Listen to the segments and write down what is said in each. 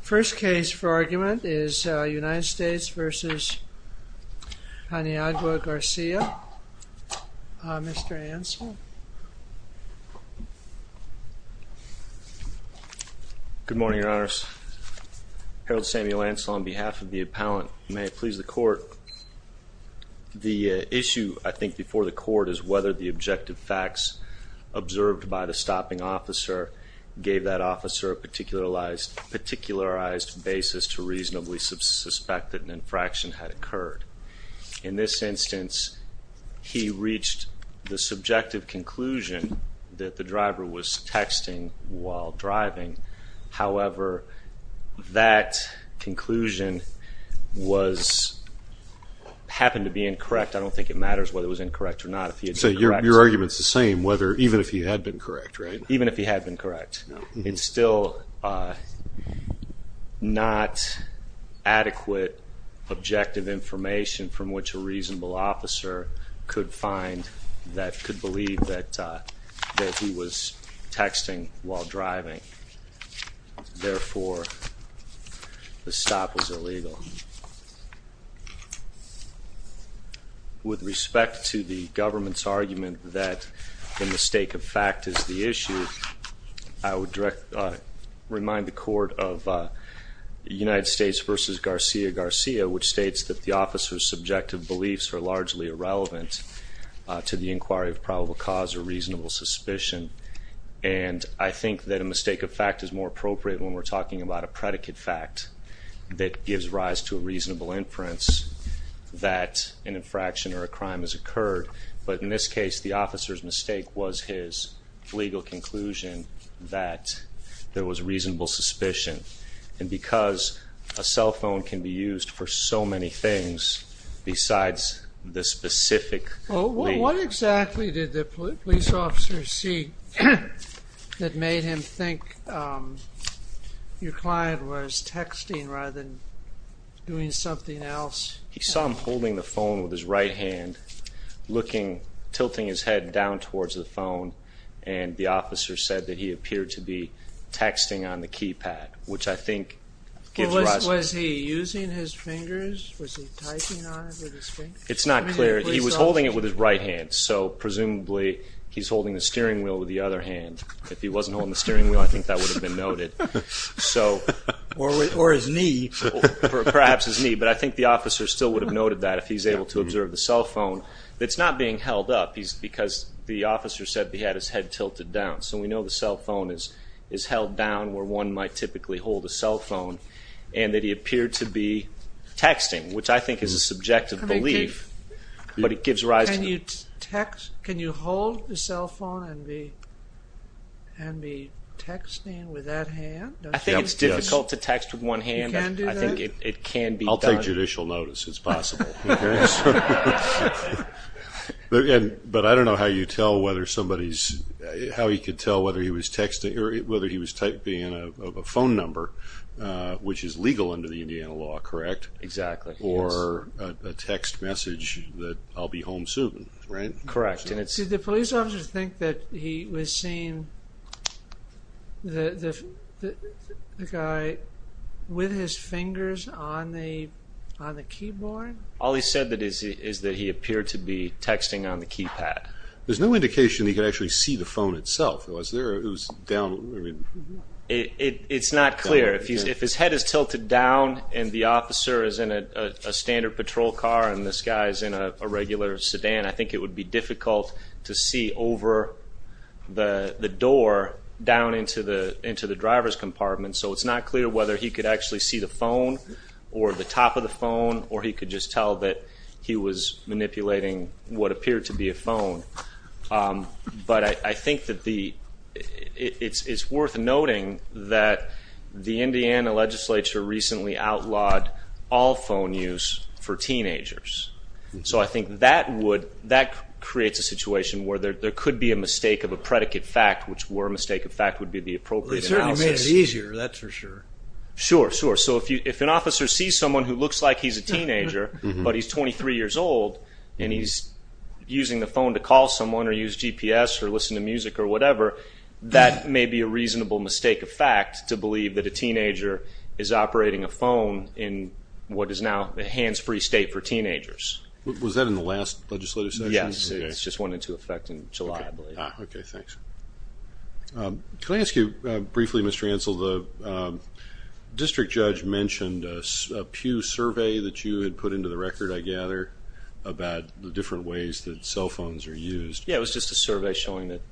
First case for argument is United States v. Paniagua-Garcia. Mr. Ansell. Good morning, Your Honors. Harold Samuel Ansell on behalf of the appellant. May it please the Court. The issue, I think, before the Court is whether the objective facts observed by the stopping officer gave that officer a particularized basis to reasonably suspect that an infraction had occurred. In this instance, he reached the subjective conclusion that the driver was texting while driving. However, that conclusion happened to be incorrect. I don't think it matters whether it was incorrect or not. So your argument is the same, even if he had been correct, right? Even if he had been correct. It's still not adequate objective information from which a reasonable officer could find that could believe that he was texting while driving. Therefore, the stop was illegal. With respect to the government's argument that a mistake of fact is the issue, I would remind the Court of United States v. Garcia-Garcia, which states that the officer's subjective beliefs are largely irrelevant to the inquiry of probable cause or reasonable suspicion. And I think that a mistake of fact is more appropriate when we're talking about a predicate fact that gives rise to a reasonable inference that an infraction or a crime has occurred. But in this case, the officer's mistake was his legal conclusion that there was reasonable suspicion. And because a cell phone can be used for so many things besides the specific... What exactly did the police officer see that made him think your client was texting rather than doing something else? He saw him holding the phone with his right hand, tilting his head down towards the phone, and the officer said that he appeared to be texting on the keypad, which I think... Was he using his fingers? Was he typing on it with his fingers? It's not clear. He was holding it with his right hand, so presumably he's holding the steering wheel with the other hand. If he wasn't holding the steering wheel, I think that would have been noted. Or his knee. Perhaps his knee, but I think the officer still would have noted that if he's able to observe the cell phone. It's not being held up because the officer said he had his head tilted down. So we know the cell phone is held down where one might typically hold a cell phone, and that he appeared to be texting, which I think is a subjective belief, but it gives rise to... Can you hold the cell phone and be texting with that hand? I think it's difficult to text with one hand, but I think it can be done. I'll take judicial notice. It's possible. But I don't know how you tell whether somebody's... How he could tell whether he was texting or whether he was typing in a phone number, which is legal under the Indiana law, correct? Exactly. Or a text message that I'll be home soon, right? Correct. Did the police officer think that he was seeing the guy with his fingers on the keyboard? All he said is that he appeared to be texting on the keypad. There's no indication that he could actually see the phone itself. It was down... It's not clear. If his head is tilted down and the officer is in a standard patrol car and this guy is in a regular sedan, I think it would be difficult to see over the door down into the driver's compartment. So it's not clear whether he could actually see the phone or the top of the phone or he could just tell that he was manipulating what appeared to be a phone. But I think that the... It's worth noting that the Indiana legislature recently outlawed all phone use for teenagers. So I think that creates a situation where there could be a mistake of a predicate fact, which were a mistake of fact would be the appropriate analysis. It makes it easier, that's for sure. Sure, sure. So if an officer sees someone who looks like he's a teenager but he's 23 years old and he's using the phone to call someone or use GPS or listen to music or whatever, that may be a reasonable mistake of fact to believe that a teenager is operating a phone in what is now a hands-free state for teenagers. Was that in the last legislative session? Yes, it just went into effect in July, I believe. Okay, thanks. Can I ask you briefly, Mr. Ansell? The district judge mentioned a Pew survey that you had put into the record, I gather, about the different ways that cell phones are used. Yeah, it was just a survey showing that...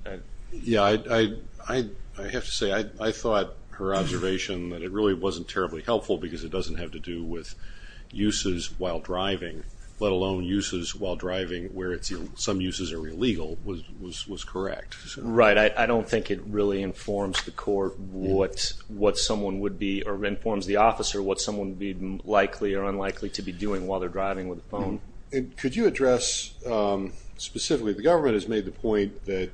Yeah, I have to say I thought her observation that it really wasn't terribly helpful because it doesn't have to do with uses while driving, let alone uses while driving where some uses are illegal was correct. I don't think it really informs the court what someone would be, or informs the officer what someone would be likely or unlikely to be doing while they're driving with a phone. Could you address specifically, the government has made the point that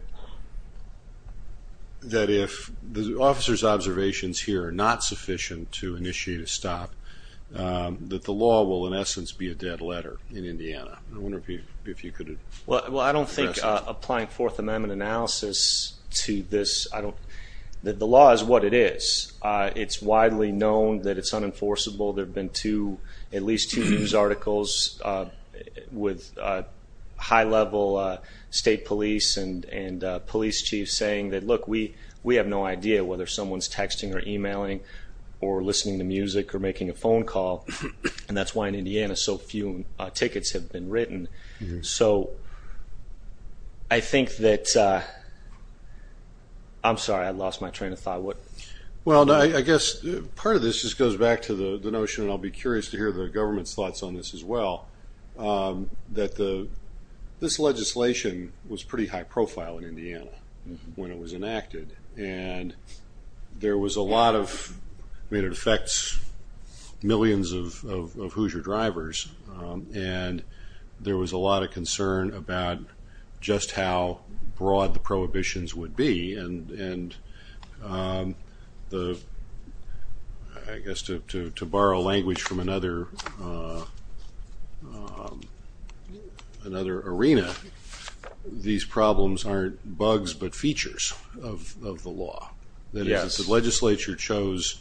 if the officer's observations here are not sufficient to initiate a stop, that the law will in essence be a dead letter in Indiana. I wonder if you could address that. Well, I don't think applying Fourth Amendment analysis to this... The law is what it is. It's widely known that it's unenforceable. There have been at least two news articles with high-level state police and police chiefs saying that, look, we have no idea whether someone's texting or emailing or listening to music or making a phone call, and that's why in Indiana so few tickets have been written. So I think that... I'm sorry, I lost my train of thought. Well, I guess part of this just goes back to the notion, and I'll be curious to hear the government's thoughts on this as well, that this legislation was pretty high profile in Indiana when it was enacted, and there was a lot of... I mean, it affects millions of Hoosier drivers, and there was a lot of concern about just how broad the prohibitions would be, and I guess to borrow language from another arena, these problems aren't bugs but features of the law. That is, the legislature chose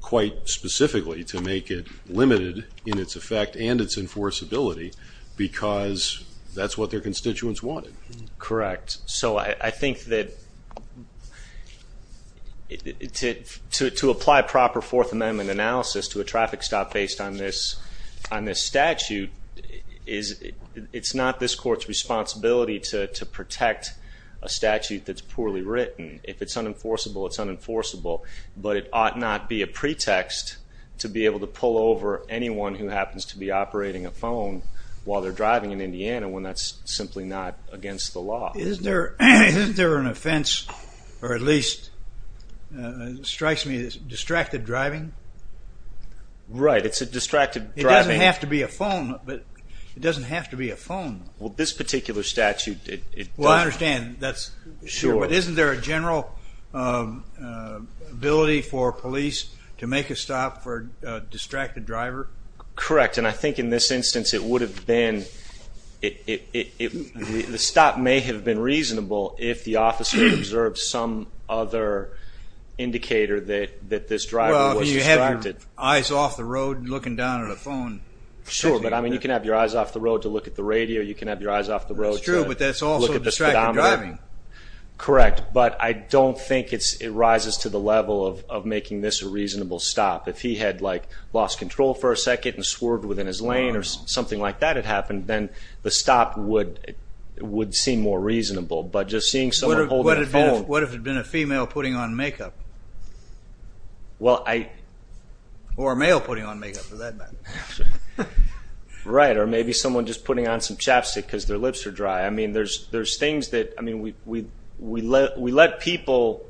quite specifically to make it limited in its effect and its enforceability because that's what their constituents wanted. Correct. So I think that to apply proper Fourth Amendment analysis to a traffic stop based on this statute, it's not this court's responsibility to protect a statute that's poorly written. If it's unenforceable, it's unenforceable, but it ought not be a pretext to be able to pull over anyone who happens to be operating a phone while they're driving in Indiana when that's simply not against the law. Isn't there an offense, or at least it strikes me, that's distracted driving? Right, it's a distracted driving... It doesn't have to be a phone, but it doesn't have to be a phone. Well, this particular statute, it doesn't... Well, I understand, but isn't there a general ability for police to make a stop for a distracted driver? Correct, and I think in this instance it would have been... The stop may have been reasonable if the officer observed some other indicator that this driver was distracted. Well, if you have your eyes off the road looking down at a phone... Sure, but you can have your eyes off the road to look at the radio, you can have your eyes off the road to look at the speedometer. That's true, but that's also distracted driving. Correct, but I don't think it rises to the level of making this a reasonable stop. If he had lost control for a second and swerved within his lane or something like that had happened, then the stop would seem more reasonable. But just seeing someone holding a phone... What if it had been a female putting on makeup? Well, I... Or a male putting on makeup, for that matter. Right, or maybe someone just putting on some chapstick because their lips are dry. I mean, there's things that... We let people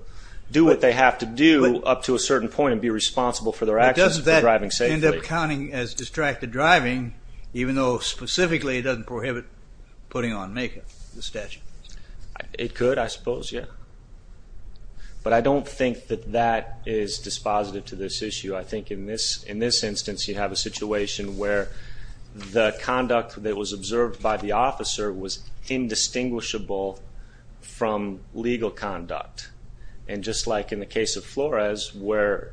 do what they have to do up to a certain point and be responsible for their actions for driving safely. But doesn't that end up counting as distracted driving, even though specifically it doesn't prohibit putting on makeup, the statute? It could, I suppose, yeah. But I don't think that that is dispositive to this issue. I think in this instance, you have a situation where the conduct that was observed by the officer was indistinguishable from legal conduct. And just like in the case of Flores, where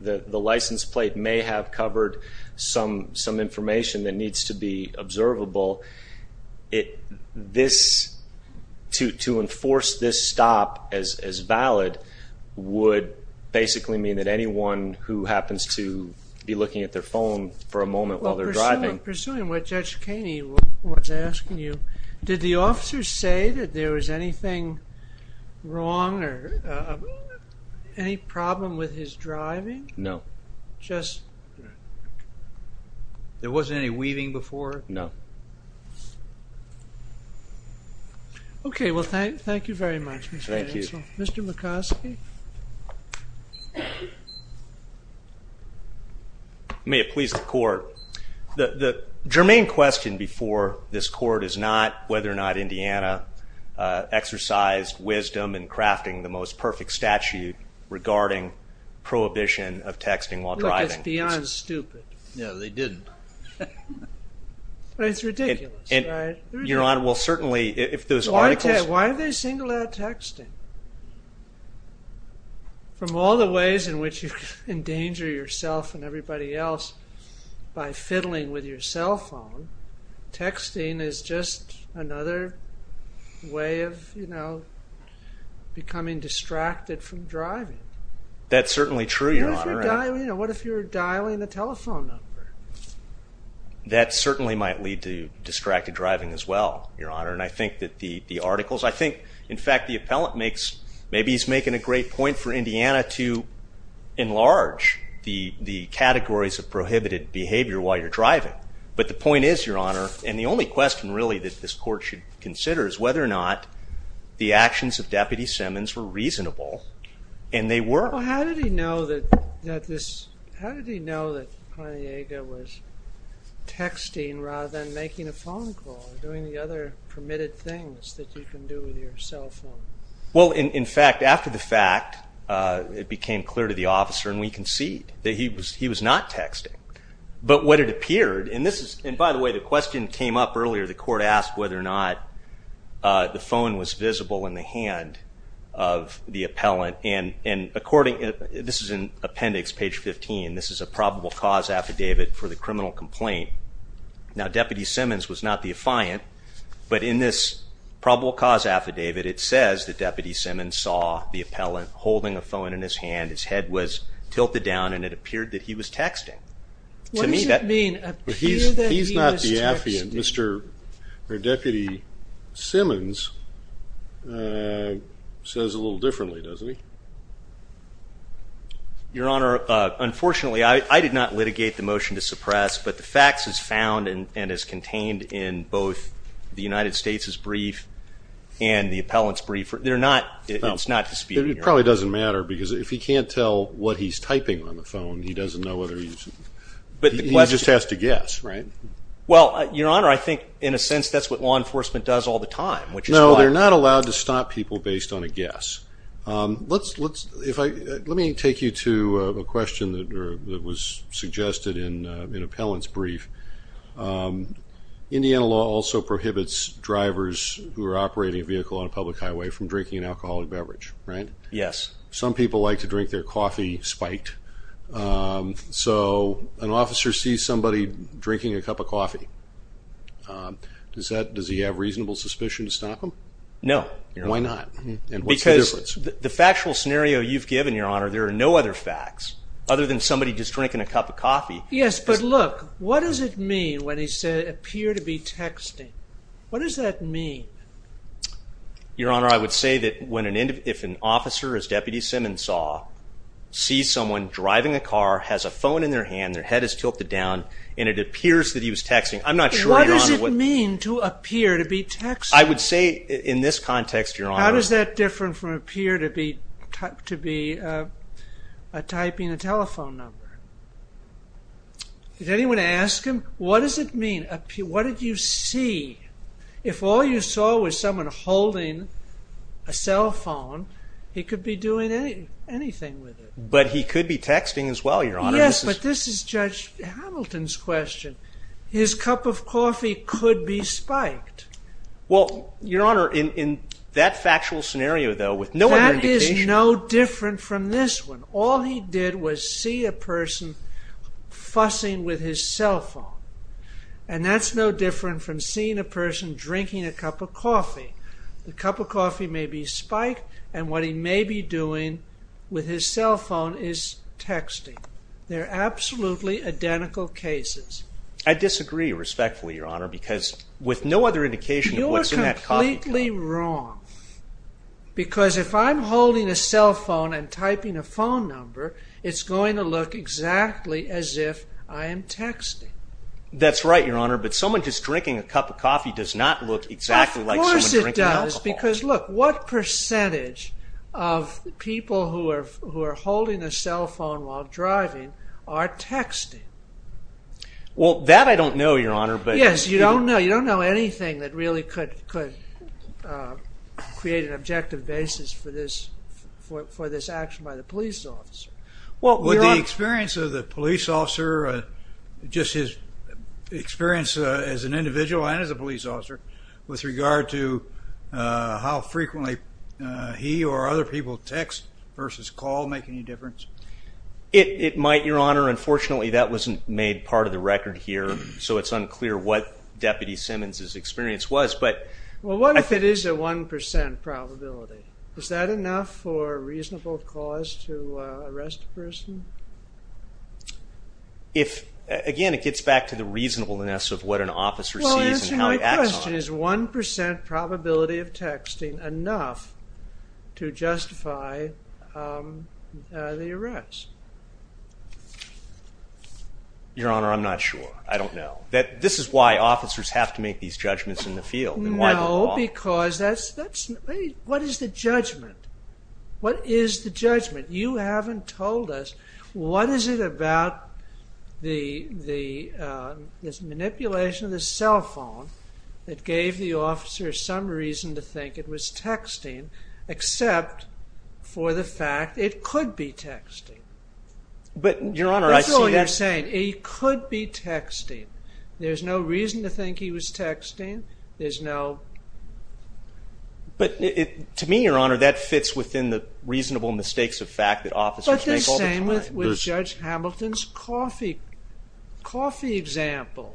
the license plate may have covered some information that needs to be observable, to enforce this stop as valid would basically mean that anyone who happens to be looking at their phone for a moment while they're driving... Well, pursuing what Judge Kaney was asking you, did the officer say that there was anything wrong or any problem with his driving? No. Just... There wasn't any weaving before? No. Okay, well, thank you very much, Mr. Hansel. Thank you. Mr. McCoskey? May it please the Court, the germane question before this Court is not whether or not Indiana exercised wisdom in crafting the most perfect statute regarding prohibition of texting while driving. Look, it's beyond stupid. No, they didn't. But it's ridiculous, right? Your Honor, well, certainly, if those articles... Why are they singled out texting? From all the ways in which you endanger yourself and everybody else by fiddling with your cell phone, texting is just another way of, you know, becoming distracted from driving. That's certainly true, Your Honor. What if you're dialing a telephone number? That certainly might lead to distracted driving as well, Your Honor. And I think that the articles... I think, in fact, the appellant makes... Maybe he's making a great point for Indiana to enlarge the categories of prohibited behavior while you're driving. But the point is, Your Honor, and the only question really that this Court should consider is whether or not the actions of Deputy Simmons were reasonable, and they were. Well, how did he know that this... How did he know that Pontiaga was texting rather than making a phone call or doing the other permitted things that you can do with your cell phone? Well, in fact, after the fact, it became clear to the officer, and we concede, that he was not texting. But what it appeared, and this is... And by the way, the question came up earlier. The Court asked whether or not the phone was visible in the hand of the appellant. And according... This is in Appendix, page 15. This is a probable cause affidavit for the criminal complaint. Now, Deputy Simmons was not the affiant, but in this probable cause affidavit, it says that Deputy Simmons saw the appellant holding a phone in his hand. His head was tilted down, and it appeared that he was texting. What does that mean, appear that he was texting? He's not the affiant. Deputy Simmons says a little differently, doesn't he? Your Honor, unfortunately, I did not litigate the motion to suppress, but the facts is found, and is contained in both the United States' brief and the appellant's brief. It's not disputed, Your Honor. It probably doesn't matter, because if he can't tell what he's typing on the phone, he doesn't know whether he's... He just has to guess, right? Well, Your Honor, I think, in a sense, that's what law enforcement does all the time, which is why... No, they're not allowed to stop people based on a guess. Let me take you to a question that was suggested in an appellant's brief. Indiana law also prohibits drivers who are operating a vehicle on a public highway from drinking an alcoholic beverage, right? Yes. Some people like to drink their coffee spiked. So, an officer sees somebody drinking a cup of coffee. Does he have reasonable suspicion to stop him? No. Why not? Because the factual scenario you've given, Your Honor, there are no other facts, other than somebody just drinking a cup of coffee. Yes, but look, what does it mean when he said, appear to be texting? What does that mean? Your Honor, I would say that when an... If an officer, as Deputy Simmons saw, sees someone driving a car, has a phone in their hand, their head is tilted down, and it appears that he was texting, I'm not sure, Your Honor... What does it mean to appear to be texting? I would say, in this context, Your Honor... How does that differ from appear to be... typing a telephone number? Did anyone ask him? What does it mean? What did you see? If all you saw was someone holding a cell phone, he could be doing anything with it. But he could be texting as well, Your Honor. Yes, but this is Judge Hamilton's question. His cup of coffee could be spiked. Well, Your Honor, in that factual scenario, though, with no other indication... Look at this one. All he did was see a person fussing with his cell phone. And that's no different from seeing a person drinking a cup of coffee. The cup of coffee may be spiked, and what he may be doing with his cell phone is texting. They're absolutely identical cases. I disagree, respectfully, Your Honor, because with no other indication of what's in that coffee cup... You are completely wrong. Because if I'm holding a cell phone and typing a phone number, it's going to look exactly as if I am texting. That's right, Your Honor, but someone just drinking a cup of coffee does not look exactly like someone drinking alcohol. Of course it does, because look, what percentage of people who are holding a cell phone while driving are texting? Well, that I don't know, Your Honor, but... Yes, you don't know. You don't know anything about creating an objective basis for this action by the police officer. Well, Your Honor... Would the experience of the police officer, just his experience as an individual and as a police officer, with regard to how frequently he or other people text versus call make any difference? It might, Your Honor. Unfortunately, that wasn't made part of the record here, so it's unclear what if it is a 1% probability. Is that enough for a reasonable cause to arrest a person? If... Again, it gets back to the reasonableness of what an officer sees and how he acts on it. Well, answer my question. Is 1% probability of texting enough to justify the arrest? Your Honor, I'm not sure. I don't know. This is why officers have to make a reasonable cause. What is the judgment? What is the judgment? You haven't told us. What is it about this manipulation of the cell phone that gave the officer some reason to think it was texting, except for the fact it could be texting? But, Your Honor, I see that... That's all you're saying. It could be texting. There's no reason to think it was texting. But, to me, Your Honor, that fits within the reasonable mistakes of fact that officers make all the time. But the same with Judge Hamilton's coffee example.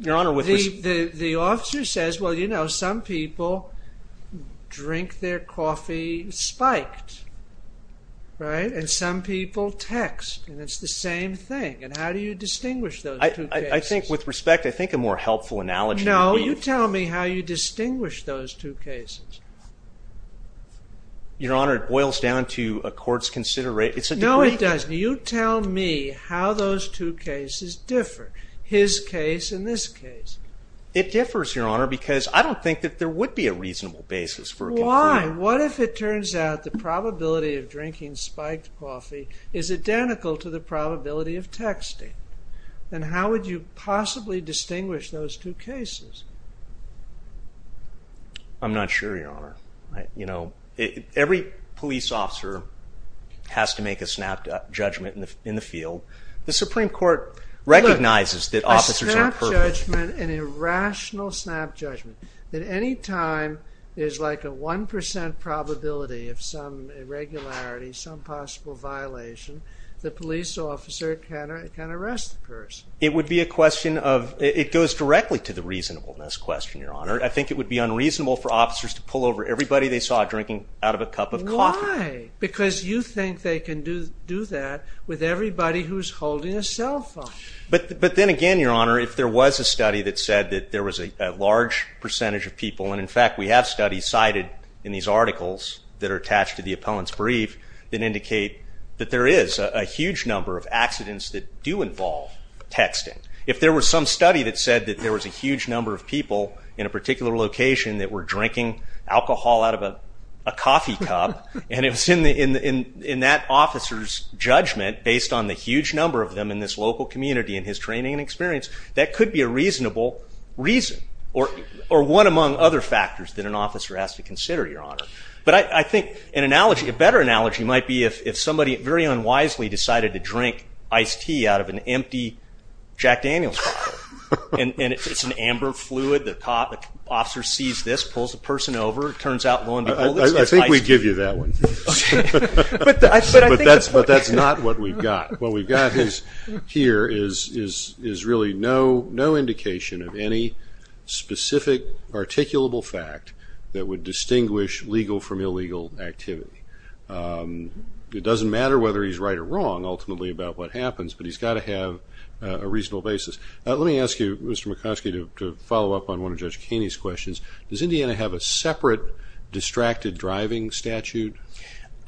Your Honor, with respect... The officer says, well, you know, some people drink their coffee spiked. Right? And some people text. And it's the same thing. And how do you distinguish those two cases? I think, with respect, I think a more helpful analogy... No, you tell me how you distinguish those two cases. Your Honor, it boils down to a court's consideration... No, it doesn't. You tell me how those two cases differ. His case and this case. It differs, Your Honor, because I don't think that there would be a reasonable basis for... Why? What if it turns out the probability of drinking spiked coffee is identical to the probability How would you possibly distinguish those two cases? I'm not sure, Your Honor. You know, every police officer has to make a snap judgment in the field. The Supreme Court recognizes that officers are... A snap judgment, an irrational snap judgment, that any time there's like a one percent probability of some irregularity, some possible violation, it goes directly to the reasonableness question, Your Honor. I think it would be unreasonable for officers to pull over everybody they saw drinking out of a cup of coffee. Why? Because you think they can do that with everybody who's holding a cell phone. But then again, Your Honor, if there was a study that said that there was a large percentage of people, and in fact we have studies that if there was some study that said that there was a huge number of people in a particular location that were drinking alcohol out of a coffee cup, and it was in that officer's judgment based on the huge number of them in this local community and his training and experience, that could be a reasonable reason or one among other factors that an officer has to consider, Your Honor. And it's an amber fluid, the officer sees this, pulls the person over, turns out low and behold, it's ice. I think we give you that one. But that's not what we've got. What we've got here is really no indication of any specific articulable fact that would distinguish legal from illegal activity. It doesn't matter whether he's right or wrong ultimately about what happens, but he's got to have a reasonable basis. Let me ask you, Mr. McCoskey, to follow up on one of Judge Kaney's questions. Does Indiana have a separate distracted driving statute?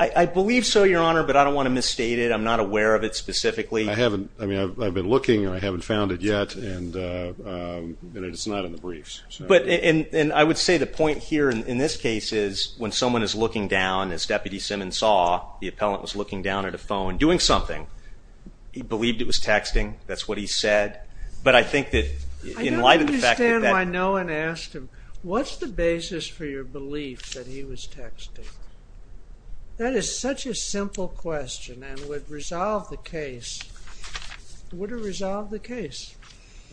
I believe so, Your Honor, but I don't want to misstate it. I'm not aware of it specifically. I mean, I've been looking and I haven't found it yet, and it's not in the briefs. But I would say the point here in this case is when someone is looking down, as Deputy Simmons saw, the appellant was looking down at a phone doing something, he believed it was texting, that's what he said. But I think that in light of the fact that... I don't understand why no one asked him, what's the basis for your belief that he was texting? That is such a simple question and would resolve the case. It would have resolved the case,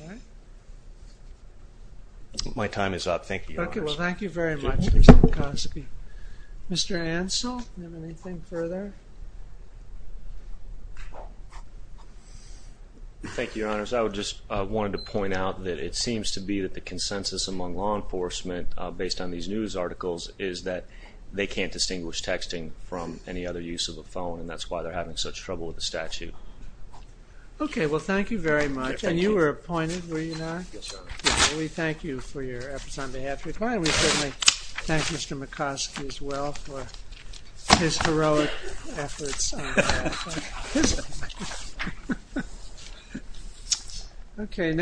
right? My time is up. Thank you, Your Honor. Okay, well, thank you very much, Mr. McCoskey. Mr. Ansell, do you have anything further? Thank you, Your Honor. I just wanted to point out that it seems to be that the consensus among law enforcement based on these news articles is that they can't distinguish texting from any other use of a phone, and that's why they're having such trouble with the statute. Okay, well, thank you very much. And you were appointed, were you not? Yes, Your Honor. We thank you for your efforts on behalf of the client. We certainly thank Mr. McCoskey as well for his heroic efforts. Okay.